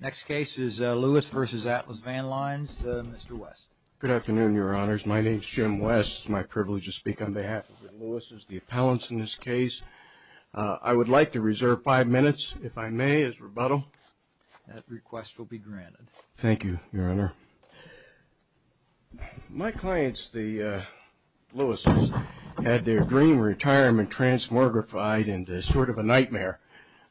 Next case is Lewis v. Atlas Van Lines. Mr. West. Good afternoon, Your Honors. My name's Jim West. It's my privilege to speak on behalf of the Lewis's, the appellants in this case. I would like to reserve five minutes, if I may, as rebuttal. That request will be granted. Thank you, Your Honor. My clients, the Lewis's, had their dream retirement transmogrified into sort of a nightmare.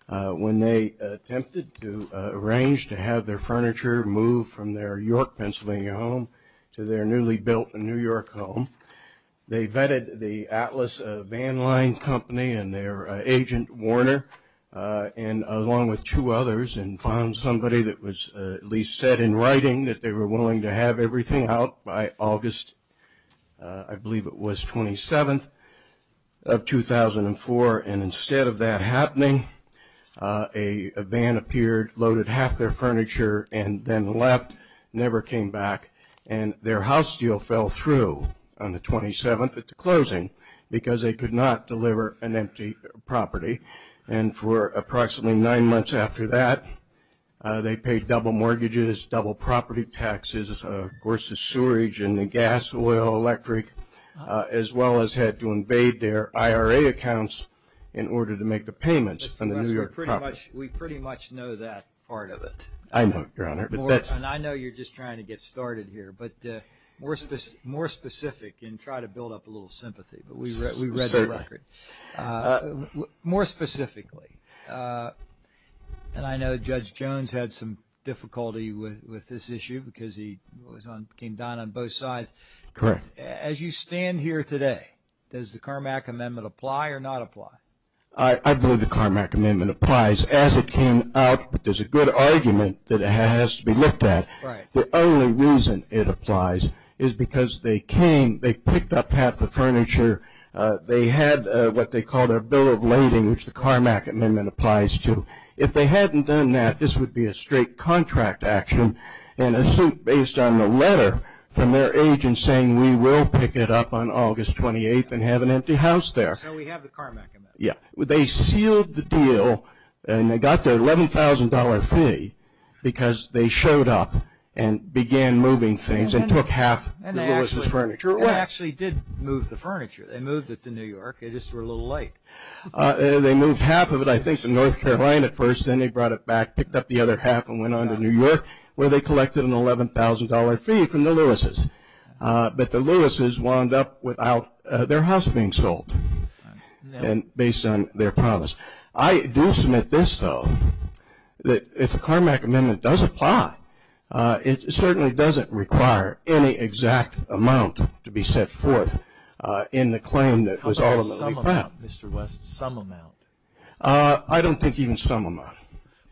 When they attempted to arrange to have their furniture moved from their York, Pennsylvania home to their newly built New York home, they vetted the Atlas Van Lines Company and their agent, Warner, along with two others, and found somebody that was at least said in writing that they were willing to have everything out by August, I believe it was, 27th of 2004. Instead of that happening, a van appeared, loaded half their furniture, and then left, never came back. Their house deal fell through on the 27th at the closing because they could not deliver an empty property. And for approximately nine months after that, they paid double mortgages, double property taxes, of course, the sewerage and the gas, oil, electric, as well as had to invade their IRA accounts in order to make the payments on the New York property. Mr. West, we pretty much know that part of it. I know, Your Honor. And I know you're just trying to get started here, but more specific, and try to build up a little sympathy, but we read the record. More specifically, and I know Judge Jones had some difficulty with this issue because he came down on both sides. Correct. As you stand here today, does the Carmack Amendment apply or not apply? I believe the Carmack Amendment applies. As it came out, there's a good argument that it has to be looked at. Right. The only reason it applies is because they came, they picked up half the furniture, they had what they called a bill of lading, which the Carmack Amendment applies to. If they hadn't done that, this would be a straight contract action, and a suit based on the letter from their agent saying we will pick it up on August 28th and have an empty house there. So we have the Carmack Amendment. Yeah. They sealed the deal, and they got their $11,000 fee because they showed up and began moving things and took half of Lewis's furniture. It actually did move the furniture. They moved it to New York. They just were a little late. They moved half of it, I think, to North Carolina first, then they brought it back, picked up the other half and went on to New York where they collected an $11,000 fee from the Lewis's. But the Lewis's wound up without their house being sold based on their promise. I do submit this, though, that if the Carmack Amendment does apply, it certainly doesn't require any exact amount to be set forth in the claim that was ultimately filed. How about some amount, Mr. West, some amount? I don't think even some amount.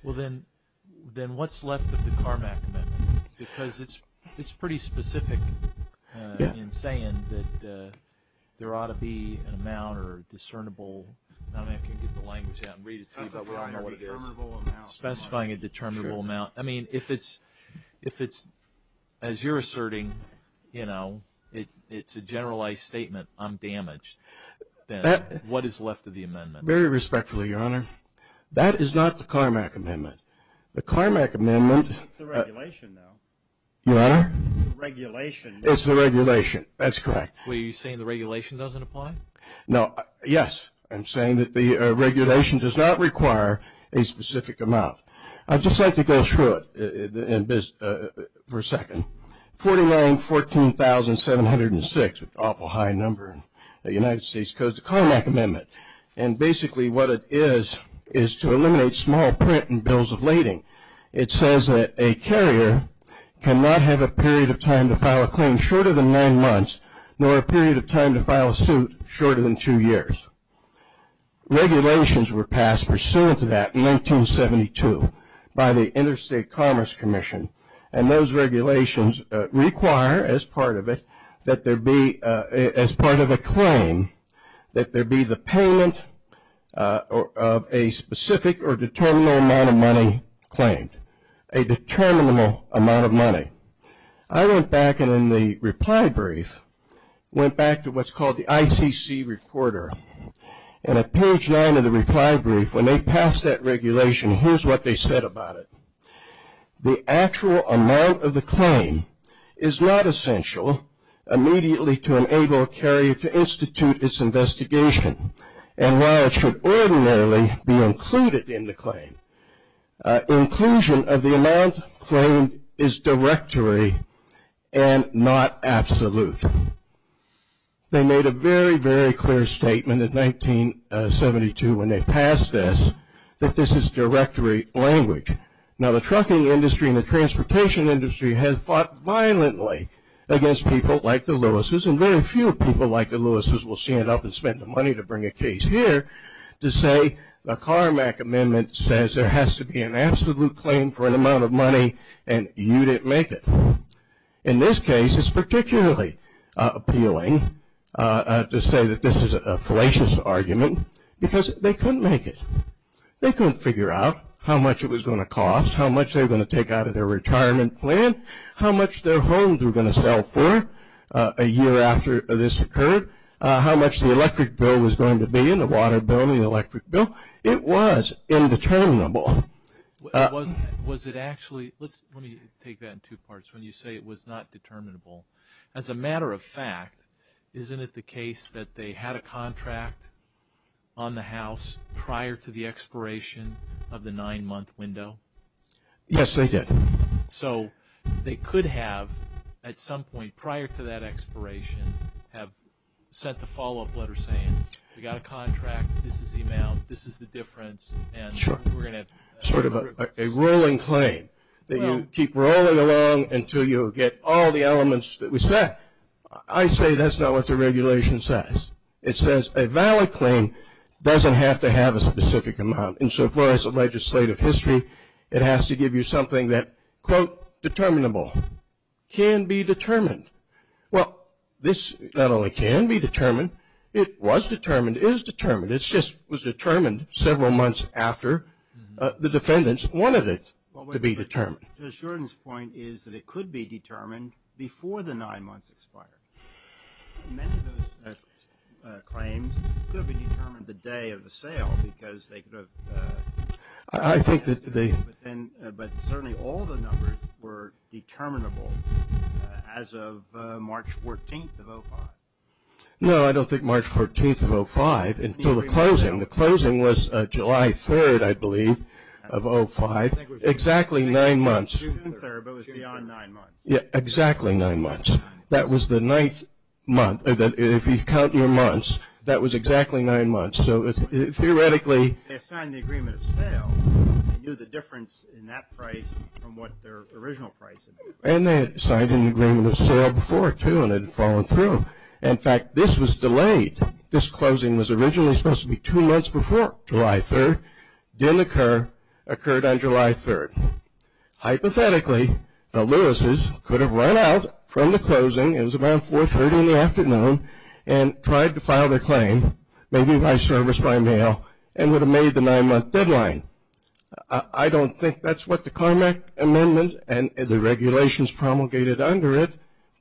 Well, then what's left of the Carmack Amendment? Because it's pretty specific in saying that there ought to be an amount or discernible. I don't know if I can get the language out and read it to you, but I don't know what it is. Specifying a determinable amount. I mean, if it's, as you're asserting, you know, it's a generalized statement, I'm damaged, then what is left of the amendment? Very respectfully, Your Honor, that is not the Carmack Amendment. The Carmack Amendment It's the regulation, though. Your Honor? It's the regulation. It's the regulation. That's correct. What, are you saying the regulation doesn't apply? No. Yes, I'm saying that the regulation does not require a specific amount. I'd just like to go through it for a second. 49,14,706, an awful high number in the United States Code, is the Carmack Amendment. And basically what it is is to eliminate small print and bills of lading. It says that a carrier cannot have a period of time to file a claim shorter than nine months, nor a period of time to file a suit shorter than two years. Regulations were passed pursuant to that in 1972 by the Interstate Commerce Commission, and those regulations require, as part of it, that there be, as part of a claim, that there be the payment of a specific or determinable amount of money claimed. A determinable amount of money. I went back, and in the reply brief, went back to what's called the ICC recorder. And at page nine of the reply brief, when they passed that regulation, here's what they said about it. The actual amount of the claim is not essential immediately to enable a carrier to institute its investigation. And while it should ordinarily be included in the claim, inclusion of the amount claimed is directory and not absolute. They made a very, very clear statement in 1972 when they passed this, that this is directory language. Now, the trucking industry and the transportation industry have fought violently against people like the Lewis's, and very few people like the Lewis's will stand up and spend the money to bring a case here to say, the Carmack Amendment says there has to be an absolute claim for an amount of money, and you didn't make it. In this case, it's particularly appealing to say that this is a fallacious argument, because they couldn't make it. They couldn't figure out how much it was going to cost, how much they were going to take out of their retirement plan, how much their homes were going to sell for a year after this occurred, how much the electric bill was going to be, and the water bill, and the electric bill. It was indeterminable. Was it actually, let me take that in two parts. When you say it was not determinable, as a matter of fact, isn't it the case that they had a contract on the house prior to the expiration of the nine-month window? Yes, they did. So, they could have, at some point prior to that expiration, have sent the follow-up letter saying, we got a contract, this is the amount, this is the difference, and we're going to... Sort of a rolling claim, that you keep rolling along until you get all the elements that we set. I say that's not what the regulation says. It says a valid claim doesn't have to have a specific amount. And so far as the legislative history, it has to give you something that, quote, determinable, can be determined. Well, this not only can be determined, it was determined, is determined. It just was determined several months after the defendants wanted it to be determined. Mr. Jordan's point is that it could be determined before the nine months expired. Many of those claims could have been determined the day of the sale because they could have... I think that they... But certainly all the numbers were determinable as of March 14th of 05. No, I don't think March 14th of 05 until the closing. The closing was July 3rd, I believe, of 05. Exactly nine months. June 3rd, but it was beyond nine months. Yeah, exactly nine months. That was the ninth month. If you count your months, that was exactly nine months. So theoretically... They signed the agreement at sale and knew the difference in that price from what their original price had been. And they had signed an agreement at sale before, too, and had fallen through. In fact, this was delayed. This closing was originally supposed to be two months before July 3rd. Didn't occur. Occurred on July 3rd. Hypothetically, the Lewises could have run out from the closing. It was around 4.30 in the afternoon, and tried to file their claim, maybe by service by mail, and would have made the nine-month deadline. I don't think that's what the Carmack Amendment and the regulations promulgated under it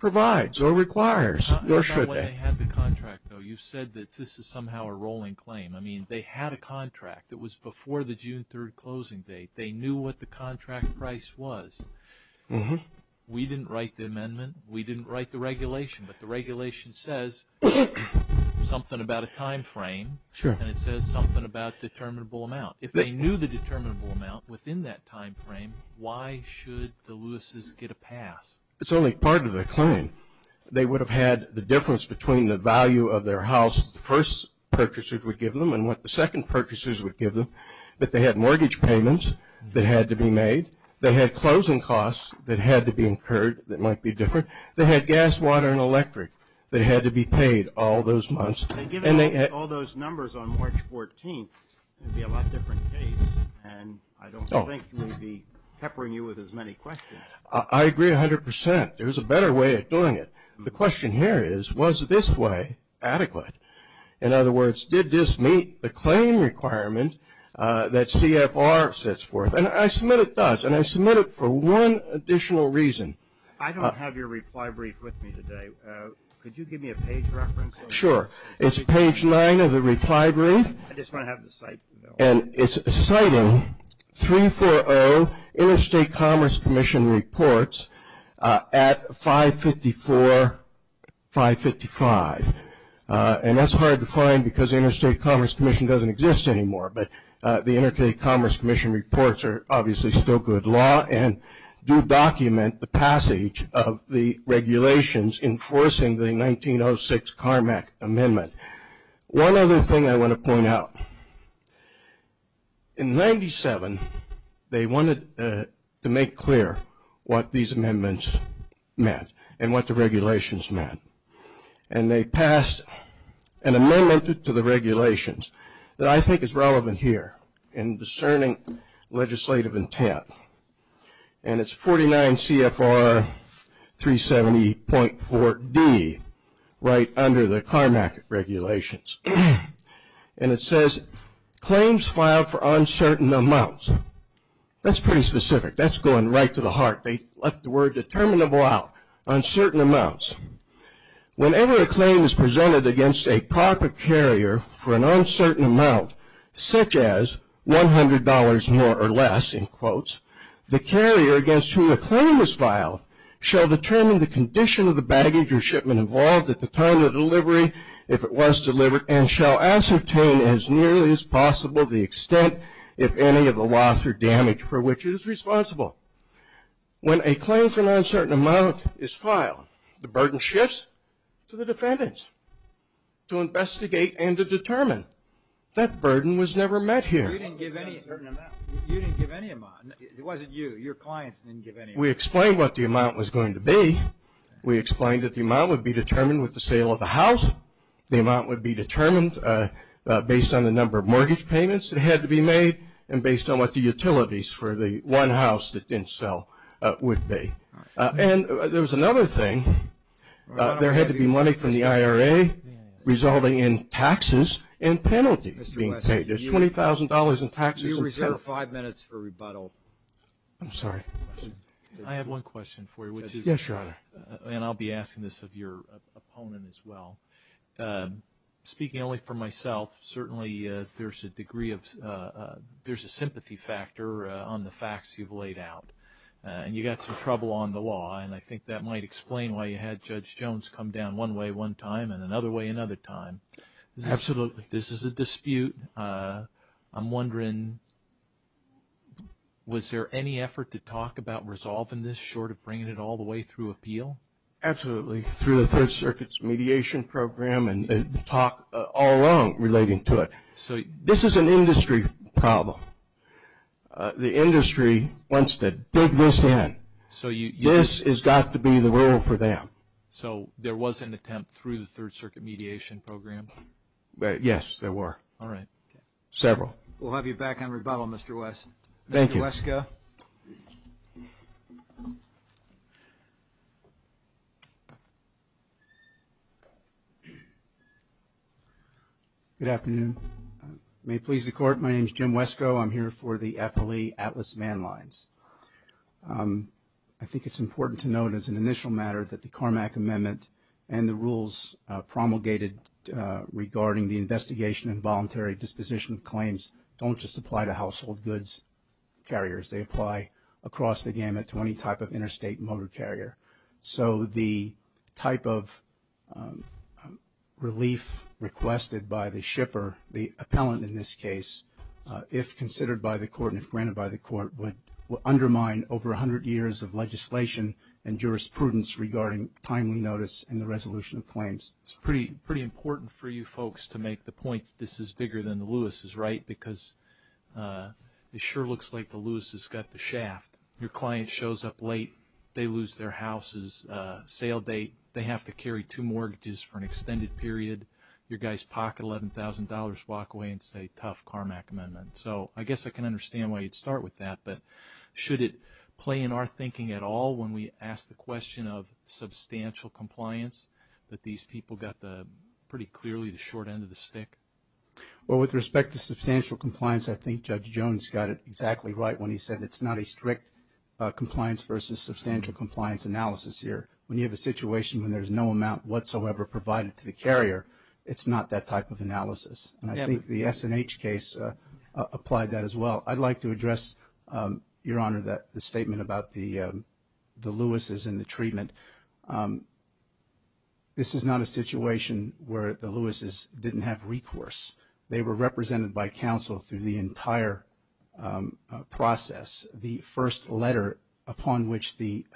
provides or requires, nor should they. Not when they had the contract, though. I mean, they had a contract. It was before the June 3rd closing date. They knew what the contract price was. We didn't write the amendment. We didn't write the regulation. But the regulation says something about a time frame, and it says something about a determinable amount. If they knew the determinable amount within that time frame, why should the Lewises get a pass? It's only part of their claim. They would have had the difference between the value of their house the first purchaser would give them and what the second purchasers would give them. But they had mortgage payments that had to be made. They had closing costs that had to be incurred that might be different. They had gas, water, and electric that had to be paid all those months. If they give us all those numbers on March 14th, it would be a lot different case, and I don't think we'd be peppering you with as many questions. I agree 100%. There's a better way of doing it. The question here is, was this way adequate? In other words, did this meet the claim requirement that CFR sets forth? And I submit it does, and I submit it for one additional reason. I don't have your reply brief with me today. Could you give me a page reference? Sure. It's page nine of the reply brief. I just want to have the site. And it's citing 340 Interstate Commerce Commission reports at 554, 555. And that's hard to find because the Interstate Commerce Commission doesn't exist anymore, but the Interstate Commerce Commission reports are obviously still good law and do document the passage of the regulations enforcing the 1906 CARMAC Amendment. One other thing I want to point out. In 97, they wanted to make clear what these amendments meant and what the regulations meant. And they passed an amendment to the regulations that I think is relevant here in discerning legislative intent. And it's 49 CFR 370.4D, right under the CARMAC regulations. And it says, claims filed for uncertain amounts. That's pretty specific. That's going right to the heart. They left the word determinable out, uncertain amounts. Whenever a claim is presented against a proper carrier for an uncertain amount, such as $100 more or less, in quotes, the carrier against whom the claim was filed shall determine the condition of the baggage or shipment involved at the time of delivery, if it was delivered, and shall ascertain as nearly as possible the extent, if any, of the loss or damage for which it is responsible. When a claim for an uncertain amount is filed, the burden shifts to the defendants to investigate and to determine. That burden was never met here. You didn't give any amount. You didn't give any amount. It wasn't you. Your clients didn't give any amount. We explained what the amount was going to be. We explained that the amount would be determined with the sale of the house. The amount would be determined based on the number of mortgage payments that had to be made and based on what the utilities for the one house that didn't sell would be. And there was another thing. There had to be money from the IRA resulting in taxes and penalties being paid. There's $20,000 in taxes and penalties. You reserve five minutes for rebuttal. I'm sorry. I have one question for you. Yes, Your Honor. And I'll be asking this of your opponent as well. Speaking only for myself, certainly there's a sympathy factor on the facts you've laid out, and you got some trouble on the law, and I think that might explain why you had Judge Jones come down one way one time and another way another time. Absolutely. This is a dispute. I'm wondering, was there any effort to talk about resolving this short of bringing it all the way through appeal? Absolutely, through the Third Circuit's mediation program and talk all along relating to it. This is an industry problem. The industry wants to dig this in. This has got to be the rule for them. So there was an attempt through the Third Circuit mediation program? Yes, there were. All right. Several. We'll have you back on rebuttal, Mr. West. Thank you. Mr. Wesko. Good afternoon. May it please the Court, my name is Jim Wesko. I'm here for the FLE Atlas Van Lines. I think it's important to note as an initial matter that the Carmack Amendment and the rules promulgated regarding the investigation and voluntary disposition of claims don't just apply to household goods carriers. They apply across the gamut to any type of interstate motor carrier. So the type of relief requested by the shipper, the appellant in this case, if considered by the Court and if granted by the Court, would undermine over 100 years of legislation and jurisprudence regarding timely notice and the resolution of claims. It's pretty important for you folks to make the point this is bigger than the Lewis's, right? Your client shows up late, they lose their house's sale date, they have to carry two mortgages for an extended period, your guy's pocket $11,000 walk away and say tough Carmack Amendment. So I guess I can understand why you'd start with that, but should it play in our thinking at all when we ask the question of substantial compliance that these people got pretty clearly the short end of the stick? Well, with respect to substantial compliance, I think Judge Jones got it exactly right when he said it's not a strict compliance versus substantial compliance analysis here. When you have a situation when there's no amount whatsoever provided to the carrier, it's not that type of analysis. And I think the S&H case applied that as well. I'd like to address, Your Honor, the statement about the Lewis's and the treatment. This is not a situation where the Lewis's didn't have recourse. They were represented by counsel through the entire process. The first letter upon which the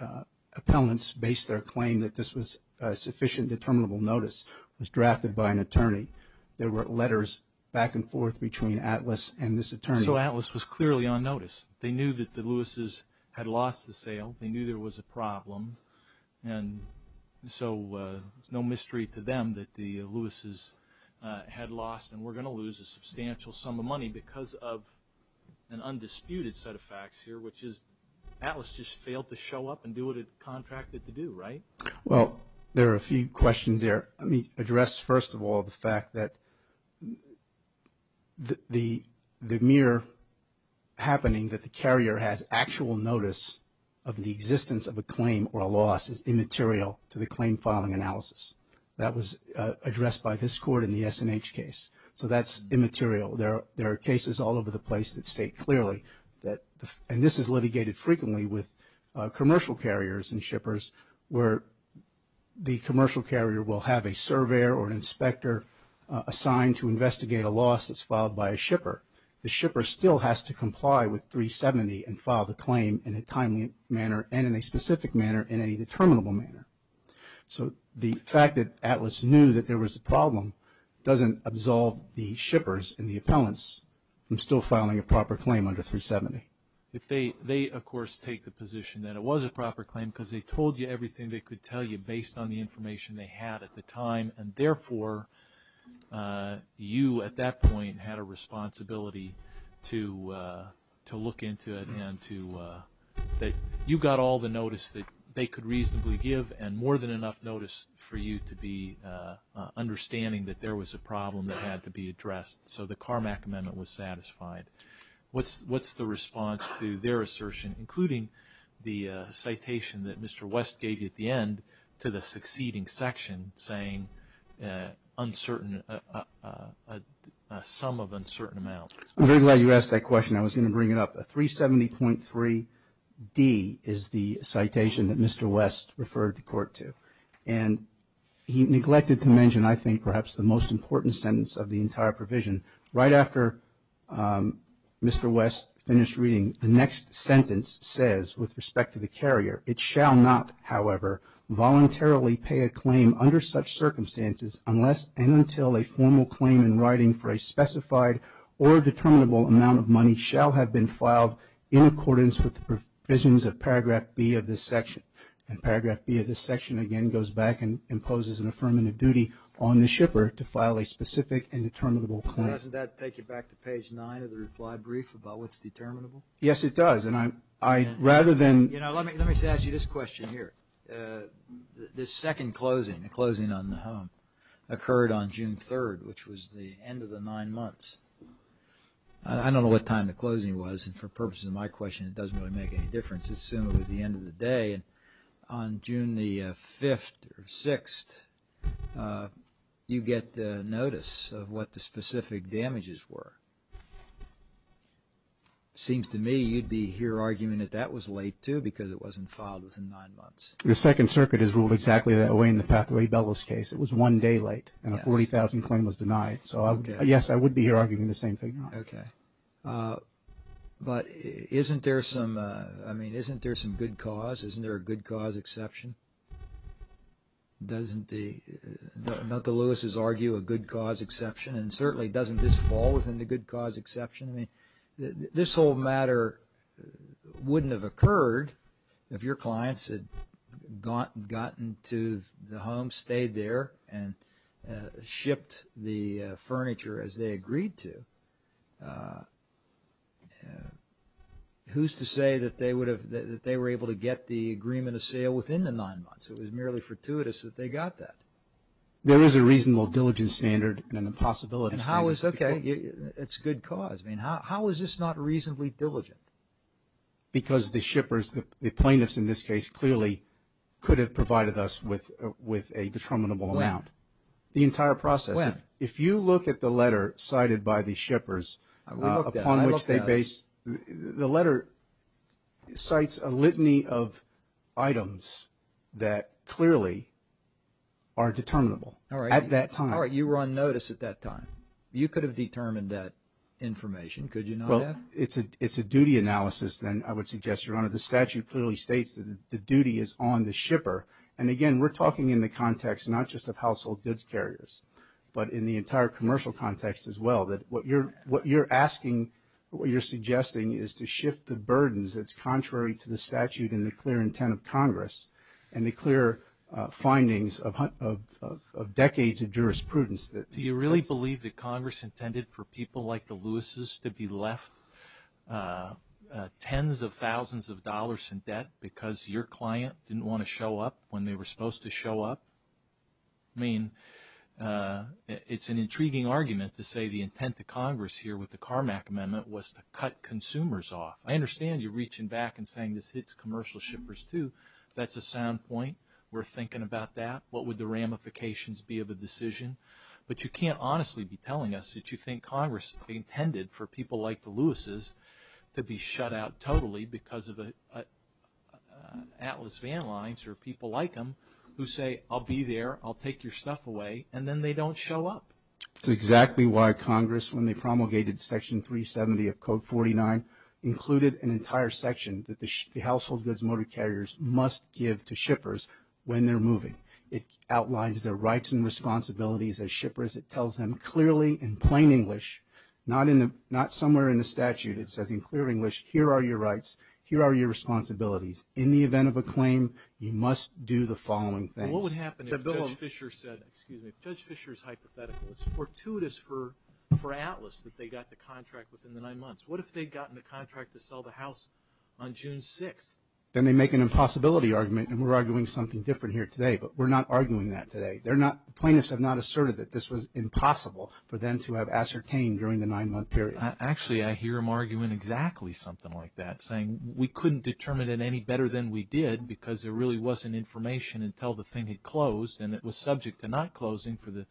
appellants based their claim that this was sufficient, determinable notice was drafted by an attorney. There were letters back and forth between Atlas and this attorney. So Atlas was clearly on notice. They knew that the Lewis's had lost the sale. They knew there was a problem. And so it's no mystery to them that the Lewis's had lost and were going to lose a substantial sum of money because of an undisputed set of facts here, which is Atlas just failed to show up and do what it contracted to do, right? Well, there are a few questions there. Let me address first of all the fact that the mere happening that the carrier has actual notice of the existence of a claim or a loss is immaterial to the claim filing analysis. That was addressed by this court in the S&H case. So that's immaterial. There are cases all over the place that state clearly that and this is litigated frequently with commercial carriers and shippers where the commercial carrier will have a surveyor or an inspector assigned to investigate a loss that's filed by a shipper. The shipper still has to comply with 370 and file the claim in a timely manner and in a specific manner in any determinable manner. So the fact that Atlas knew that there was a problem doesn't absolve the shippers and the appellants from still filing a proper claim under 370. They, of course, take the position that it was a proper claim because they told you everything they could tell you based on the information they had at the time and therefore you at that point had a responsibility to look into it and that you got all the notice that they could reasonably give and more than enough notice for you to be understanding that there was a problem that had to be addressed. So the Carmack Amendment was satisfied. What's the response to their assertion including the citation that Mr. West gave you at the end to the succeeding section saying a sum of uncertain amounts? I'm very glad you asked that question. I was going to bring it up. A 370.3D is the citation that Mr. West referred the court to and he neglected to mention I think perhaps the most important sentence of the entire provision. Right after Mr. West finished reading, the next sentence says with respect to the carrier, it shall not, however, voluntarily pay a claim under such circumstances unless and until a formal claim in writing for a specified or determinable amount of money shall have been filed in accordance with the provisions of paragraph B of this section. And paragraph B of this section again goes back and imposes an affirmative duty on the shipper to file a specific and determinable claim. Doesn't that take you back to page 9 of the reply brief about what's determinable? Yes, it does. Let me ask you this question here. The second closing, the closing on the home, occurred on June 3rd, which was the end of the nine months. I don't know what time the closing was. For purposes of my question, it doesn't really make any difference. Assume it was the end of the day. On June 5th or 6th, you get notice of what the specific damages were. Seems to me you'd be here arguing that that was late, too, because it wasn't filed within nine months. The Second Circuit has ruled exactly that way in the Pathway Bellows case. It was one day late and a $40,000 claim was denied. So, yes, I would be here arguing the same thing. Okay. But isn't there some good cause? Isn't there a good cause exception? Doesn't the Lewis's argue a good cause exception? And certainly doesn't this fall within the good cause exception? I mean, this whole matter wouldn't have occurred if your clients had gotten to the home, stayed there, and shipped the furniture as they agreed to. Who's to say that they were able to get the agreement of sale within the nine months? It was merely fortuitous that they got that. There is a reasonable diligence standard and a possibility standard. Okay. It's a good cause. I mean, how is this not reasonably diligent? Because the shippers, the plaintiffs in this case, clearly could have provided us with a detrimental amount. The entire process. When? If you look at the letter cited by the shippers upon which they based – the letter cites a litany of items that clearly are determinable at that time. All right. You were on notice at that time. You could have determined that information. Could you not have? Well, it's a duty analysis, then, I would suggest, Your Honor. The statute clearly states that the duty is on the shipper. And again, we're talking in the context not just of household goods carriers, but in the entire commercial context as well, that what you're asking or what you're suggesting is to shift the burdens that's contrary to the statute and the clear intent of Congress and the clear findings of decades of jurisprudence. Do you really believe that Congress intended for people like the Lewises to be left tens of thousands of dollars in debt because your client didn't want to show up when they were supposed to show up? I mean, it's an intriguing argument to say the intent of Congress here with the Carmack Amendment was to cut consumers off. I understand you're reaching back and saying this hits commercial shippers, too. That's a sound point. We're thinking about that. What would the ramifications be of a decision? But you can't honestly be telling us that you think Congress intended for people like the Lewises to be shut out totally because of Atlas Van Lines or people like them who say, I'll be there, I'll take your stuff away, and then they don't show up. That's exactly why Congress, when they promulgated Section 370 of Code 49, included an entire section that the household goods motor carriers must give to shippers when they're moving. It outlines their rights and responsibilities as shippers. It tells them clearly in plain English, not somewhere in the statute, it says in clear English, here are your rights, here are your responsibilities. In the event of a claim, you must do the following things. What would happen if Judge Fisher said, excuse me, if Judge Fisher's hypothetical, it's fortuitous for Atlas that they got the contract within the nine months. What if they'd gotten the contract to sell the house on June 6th? Then they'd make an impossibility argument, and we're arguing something different here today. But we're not arguing that today. Plaintiffs have not asserted that this was impossible for them to have ascertained during the nine-month period. Actually, I hear them arguing exactly something like that, saying we couldn't determine it any better than we did because there really wasn't information until the thing had closed, and it was subject to not closing for the,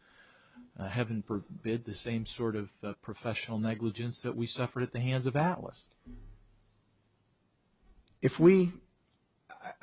heaven forbid, the same sort of professional negligence that we suffered at the hands of Atlas.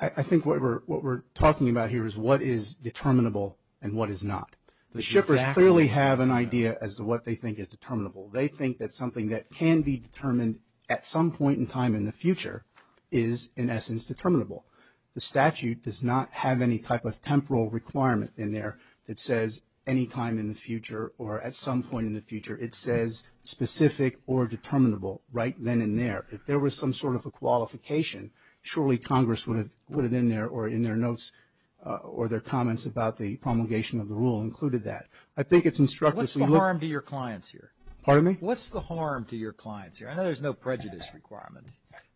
I think what we're talking about here is what is determinable and what is not. The shippers clearly have an idea as to what they think is determinable. They think that something that can be determined at some point in time in the future is, in essence, determinable. The statute does not have any type of temporal requirement in there that says any time in the future or at some point in the future it says specific or determinable right then and there. If there was some sort of a qualification, surely Congress would have put it in there or in their notes or their comments about the promulgation of the rule included that. I think it's instructive. What's the harm to your clients here? Pardon me? What's the harm to your clients here? I know there's no prejudice requirement,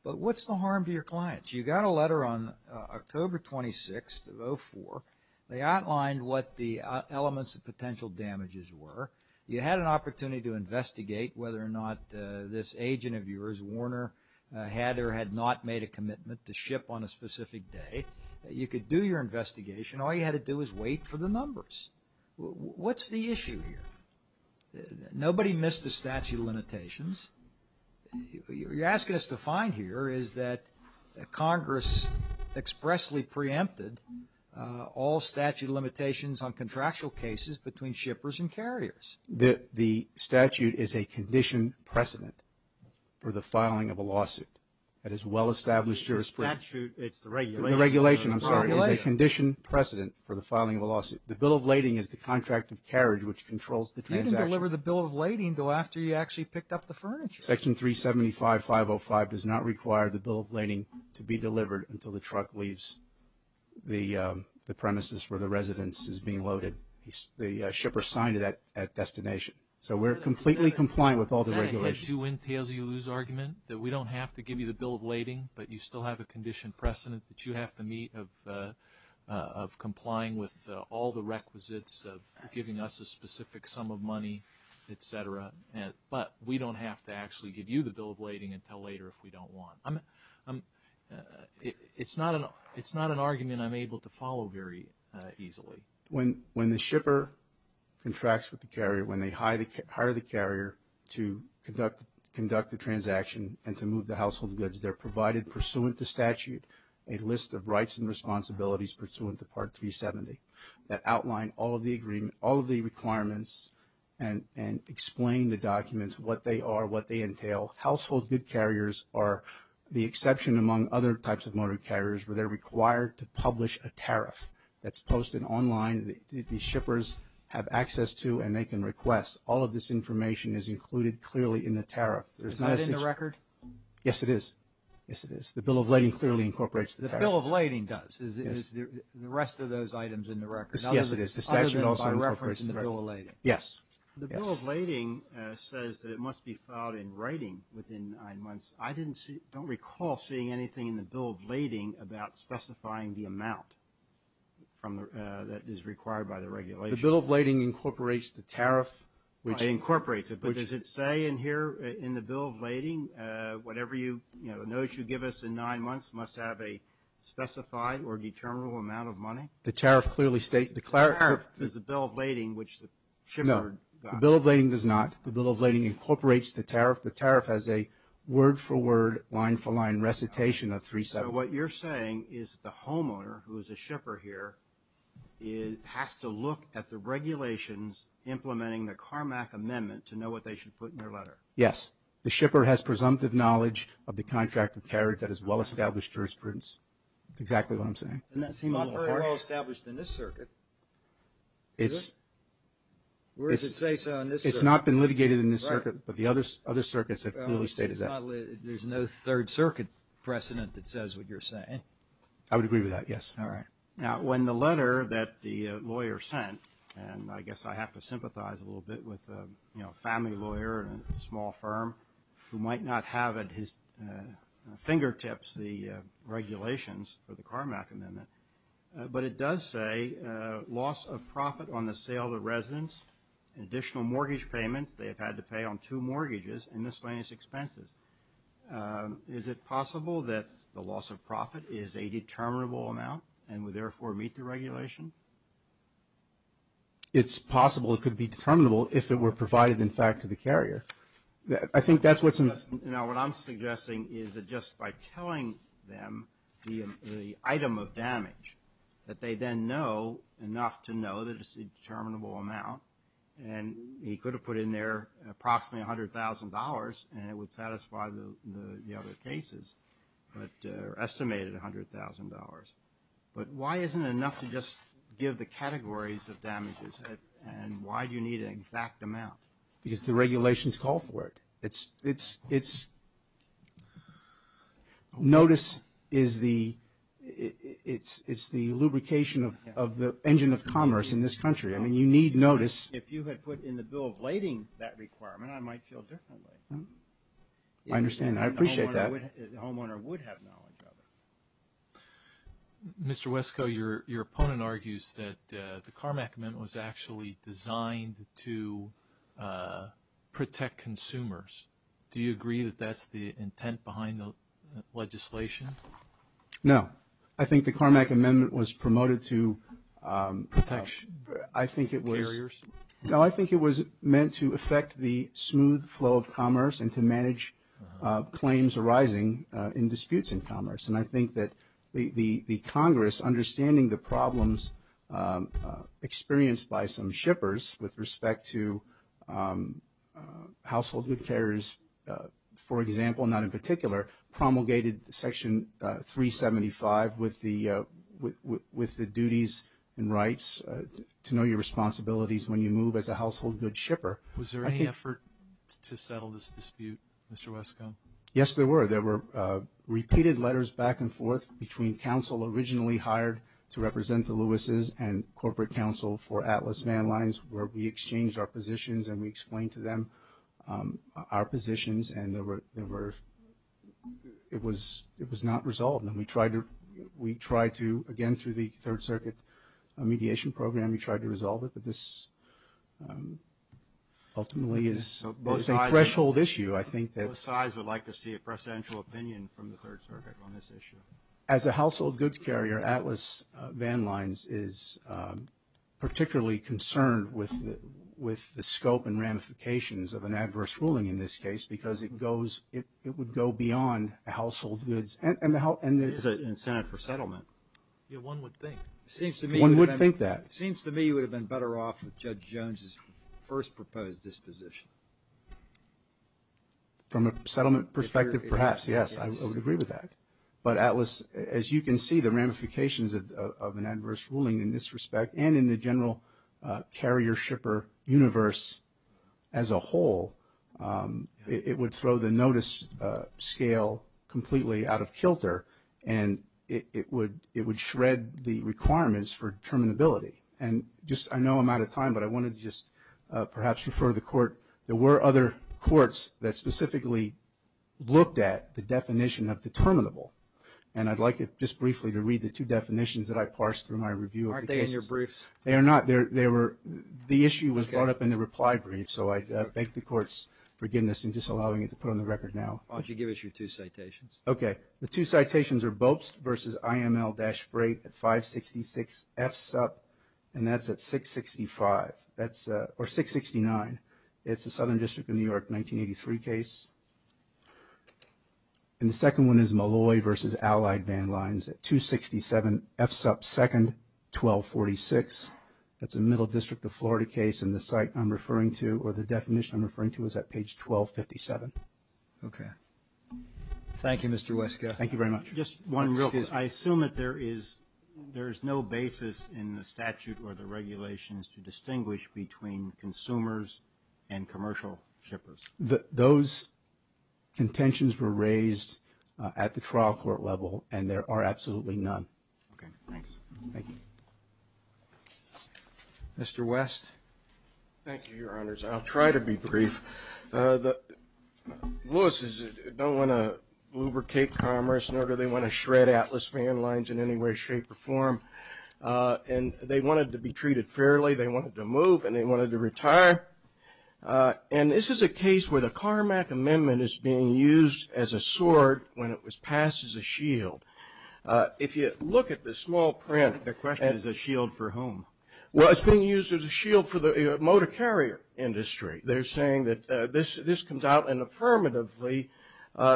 but what's the harm to your clients? You got a letter on October 26th of 2004. They outlined what the elements of potential damages were. You had an opportunity to investigate whether or not this agent of yours, Warner, had or had not made a commitment to ship on a specific day. You could do your investigation. All you had to do was wait for the numbers. What's the issue here? Nobody missed the statute of limitations. What you're asking us to find here is that Congress expressly preempted all statute of limitations on contractual cases between shippers and carriers. The statute is a condition precedent for the filing of a lawsuit. That is well-established jurisprudence. The statute, it's the regulation. The regulation, I'm sorry, is a condition precedent for the filing of a lawsuit. The bill of lading is the contract of carriage which controls the transaction. You didn't deliver the bill of lading until after you actually picked up the furniture. Section 375.505 does not require the bill of lading to be delivered until the truck leaves the premises where the residence is being loaded. The shipper signed it at destination. So we're completely compliant with all the regulations. Is that a head-two-wind-tails-you-lose argument, that we don't have to give you the bill of lading, but you still have a condition precedent that you have to meet of complying with all the requisites of giving us a specific sum of money, et cetera, but we don't have to actually give you the bill of lading until later if we don't want. It's not an argument I'm able to follow very easily. When the shipper contracts with the carrier, when they hire the carrier to conduct the transaction and to move the household goods, they're provided pursuant to statute a list of rights and responsibilities pursuant to Part 370 that outline all of the requirements and explain the documents, what they are, what they entail. Household good carriers are the exception among other types of motor carriers where they're required to publish a tariff that's posted online. The shippers have access to and they can request. All of this information is included clearly in the tariff. Is that in the record? Yes, it is. Yes, it is. The bill of lading clearly incorporates the tariff. The bill of lading does. Is the rest of those items in the record? Yes, it is. Other than by reference in the bill of lading. Yes. The bill of lading says that it must be filed in writing within nine months. I don't recall seeing anything in the bill of lading about specifying the amount that is required by the regulation. The bill of lading incorporates the tariff. It incorporates it. But does it say in here, in the bill of lading, whatever you, you know, the notes you give us in nine months must have a specified or determinable amount of money? The tariff clearly states. The tariff is the bill of lading which the shipper got. No, the bill of lading does not. The bill of lading incorporates the tariff. The tariff has a word-for-word, line-for-line recitation of 370. So what you're saying is the homeowner, who is a shipper here, has to look at the regulations implementing the Carmack Amendment to know what they should put in their letter. Yes. The shipper has presumptive knowledge of the contract of carriage that is well-established jurisprudence. That's exactly what I'm saying. And that's not very well-established in this circuit, is it? It's not been litigated in this circuit, but the other circuits have clearly stated that. There's no Third Circuit precedent that says what you're saying. I would agree with that, yes. All right. Now, when the letter that the lawyer sent, and I guess I have to sympathize a little bit with a family lawyer in a small firm who might not have at his fingertips the regulations for the Carmack Amendment, but it does say loss of profit on the sale of residence, additional mortgage payments they have had to pay on two mortgages, and miscellaneous expenses. Is it possible that the loss of profit is a determinable amount and would therefore meet the regulation? It's possible it could be determinable if it were provided, in fact, to the carrier. I think that's what's important. Now, what I'm suggesting is that just by telling them the item of damage, that they then know enough to know that it's a determinable amount, and he could have put in there approximately $100,000 and it would satisfy the other cases, but estimated $100,000, but why isn't it enough to just give the categories of damages and why do you need an exact amount? Because the regulations call for it. Notice is the lubrication of the engine of commerce in this country. I mean, you need notice. If you had put in the bill of lading that requirement, I might feel differently. I understand that. I appreciate that. The homeowner would have knowledge of it. Mr. Wesko, your opponent argues that the Carmack Amendment was actually designed to protect consumers. Do you agree that that's the intent behind the legislation? No. I think the Carmack Amendment was promoted to protect carriers. No, I think it was meant to affect the smooth flow of commerce and to manage claims arising in disputes in commerce. And I think that the Congress, understanding the problems experienced by some shippers with respect to household good carriers, for example, not in particular, promulgated Section 375 with the duties and rights to know your responsibilities when you move as a household good shipper. Was there any effort to settle this dispute, Mr. Wesko? Yes, there were. There were repeated letters back and forth between counsel originally hired to represent the Lewis's and corporate counsel for Atlas Van Lines where we exchanged our positions and we explained to them our positions and it was not resolved. And we tried to, again, through the Third Circuit mediation program, we tried to resolve it. But this ultimately is a threshold issue. Both sides would like to see a presidential opinion from the Third Circuit on this issue. As a household goods carrier, Atlas Van Lines is particularly concerned with the scope and ramifications of an adverse ruling in this case because it would go beyond household goods. It is an incentive for settlement. One would think. One would think that. It seems to me you would have been better off with Judge Jones' first proposed disposition. From a settlement perspective, perhaps, yes, I would agree with that. But Atlas, as you can see, the ramifications of an adverse ruling in this respect and in the general carrier-shipper universe as a whole, it would throw the notice scale completely out of kilter and it would shred the requirements for determinability. And just, I know I'm out of time, but I wanted to just perhaps refer to the court. There were other courts that specifically looked at the definition of determinable. And I'd like just briefly to read the two definitions that I parsed through my review of the cases. Aren't they in your briefs? They are not. The issue was brought up in the reply brief, so I beg the court's forgiveness in just allowing it to put on the record now. Why don't you give us your two citations? Okay. The two citations are Bobst v. IML-Brate at 566 F. Supp., and that's at 665, or 669. It's a Southern District of New York 1983 case. And the second one is Malloy v. Allied Van Lines at 267 F. Supp. 2nd, 1246. It's a Middle District of Florida case, and the site I'm referring to, or the definition I'm referring to, is at page 1257. Okay. Thank you, Mr. Weske. Thank you very much. Just one real quick. Excuse me. I assume that there is no basis in the statute or the regulations to distinguish between consumers and commercial shippers. Those contentions were raised at the trial court level, and there are absolutely none. Okay. Thanks. Thank you. Mr. West. Thank you, Your Honors. I'll try to be brief. Louis's don't want to lubricate commerce, nor do they want to shred Atlas Van Lines in any way, shape, or form. And they wanted to be treated fairly. They wanted to move, and they wanted to retire. And this is a case where the Carmack Amendment is being used as a sword when it was passed as a shield. If you look at the small print, the question is a shield for whom? Well, it's being used as a shield for the motor carrier industry. They're saying that this comes out and affirmatively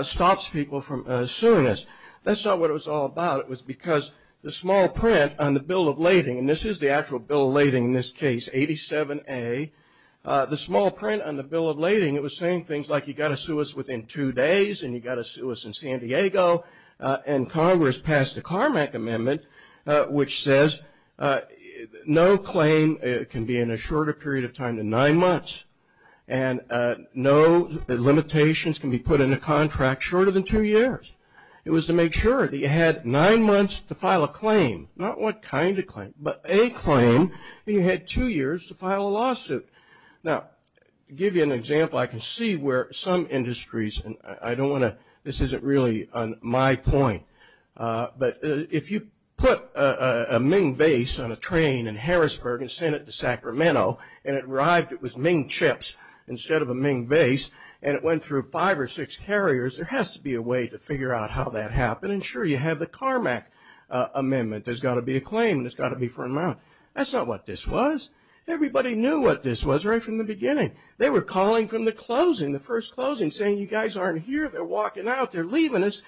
stops people from suing us. That's not what it was all about. It was because the small print on the bill of lading, and this is the actual bill of lading in this case, 87A. The small print on the bill of lading, it was saying things like you've got to sue us within two days, and you've got to sue us in San Diego. And Congress passed the Carmack Amendment, which says no claim can be in a shorter period of time than nine months, and no limitations can be put in a contract shorter than two years. It was to make sure that you had nine months to file a claim, not what kind of claim, but a claim, and you had two years to file a lawsuit. Now, to give you an example, I can see where some industries, and I don't want to, this isn't really my point, but if you put a Ming vase on a train in Harrisburg and sent it to Sacramento, and it arrived with Ming chips instead of a Ming vase, and it went through five or six carriers, there has to be a way to figure out how that happened. And sure, you have the Carmack Amendment. There's got to be a claim. There's got to be a fair amount. That's not what this was. Everybody knew what this was right from the beginning. They were calling from the closing, the first closing, saying, you guys aren't here. They're walking out. They're leaving us.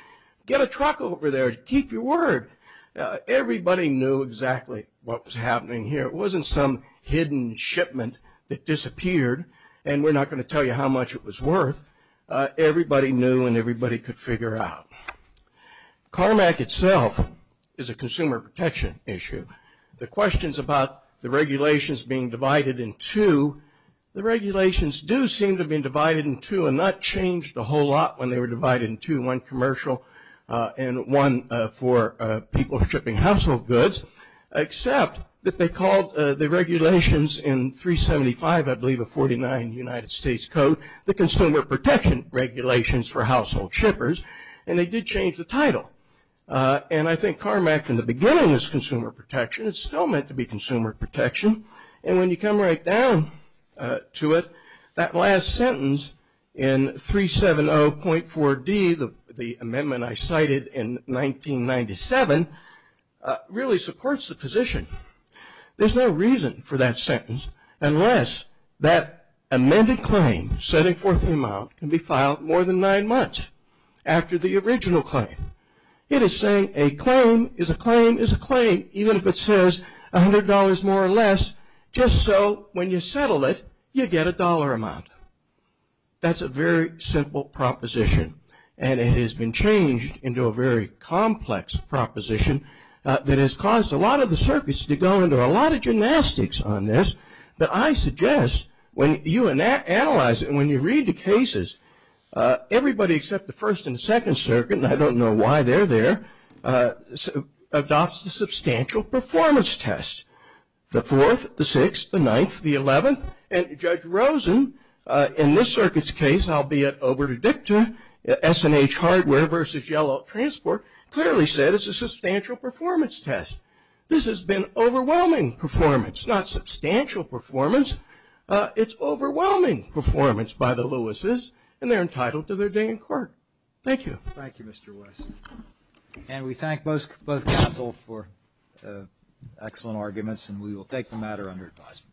Get a truck over there to keep your word. Everybody knew exactly what was happening here. It wasn't some hidden shipment that disappeared, and we're not going to tell you how much it was worth. Everybody knew, and everybody could figure out. Carmack itself is a consumer protection issue. The questions about the regulations being divided in two, the regulations do seem to have been divided in two and not changed a whole lot when they were divided in two, one commercial and one for people shipping household goods, except that they called the regulations in 375, I believe of 49 United States Code, the Consumer Protection Regulations for Household Shippers, and they did change the title. And I think Carmack in the beginning is consumer protection. It's still meant to be consumer protection, and when you come right down to it, that last sentence in 370.4D, the amendment I cited in 1997, really supports the position. There's no reason for that sentence unless that amended claim, setting forth the amount, can be filed more than nine months after the original claim. It is saying a claim is a claim is a claim, even if it says $100 more or less, just so when you settle it, you get a dollar amount. That's a very simple proposition, and it has been changed into a very complex proposition that has caused a lot of the circuits to go into a lot of gymnastics on this, but I suggest when you analyze it and when you read the cases, everybody except the First and Second Circuit, and I don't know why they're there, adopts the substantial performance test. The Fourth, the Sixth, the Ninth, the Eleventh, and Judge Rosen, in this circuit's case, albeit over to Dicta, S&H Hardware versus Yellow Transport, clearly said it's a substantial performance test. This has been overwhelming performance, not substantial performance. It's overwhelming performance by the Lewises, and they're entitled to their day in court. Thank you. Thank you, Mr. West. And we thank both counsel for excellent arguments, and we will take the matter under advisement. Thank you.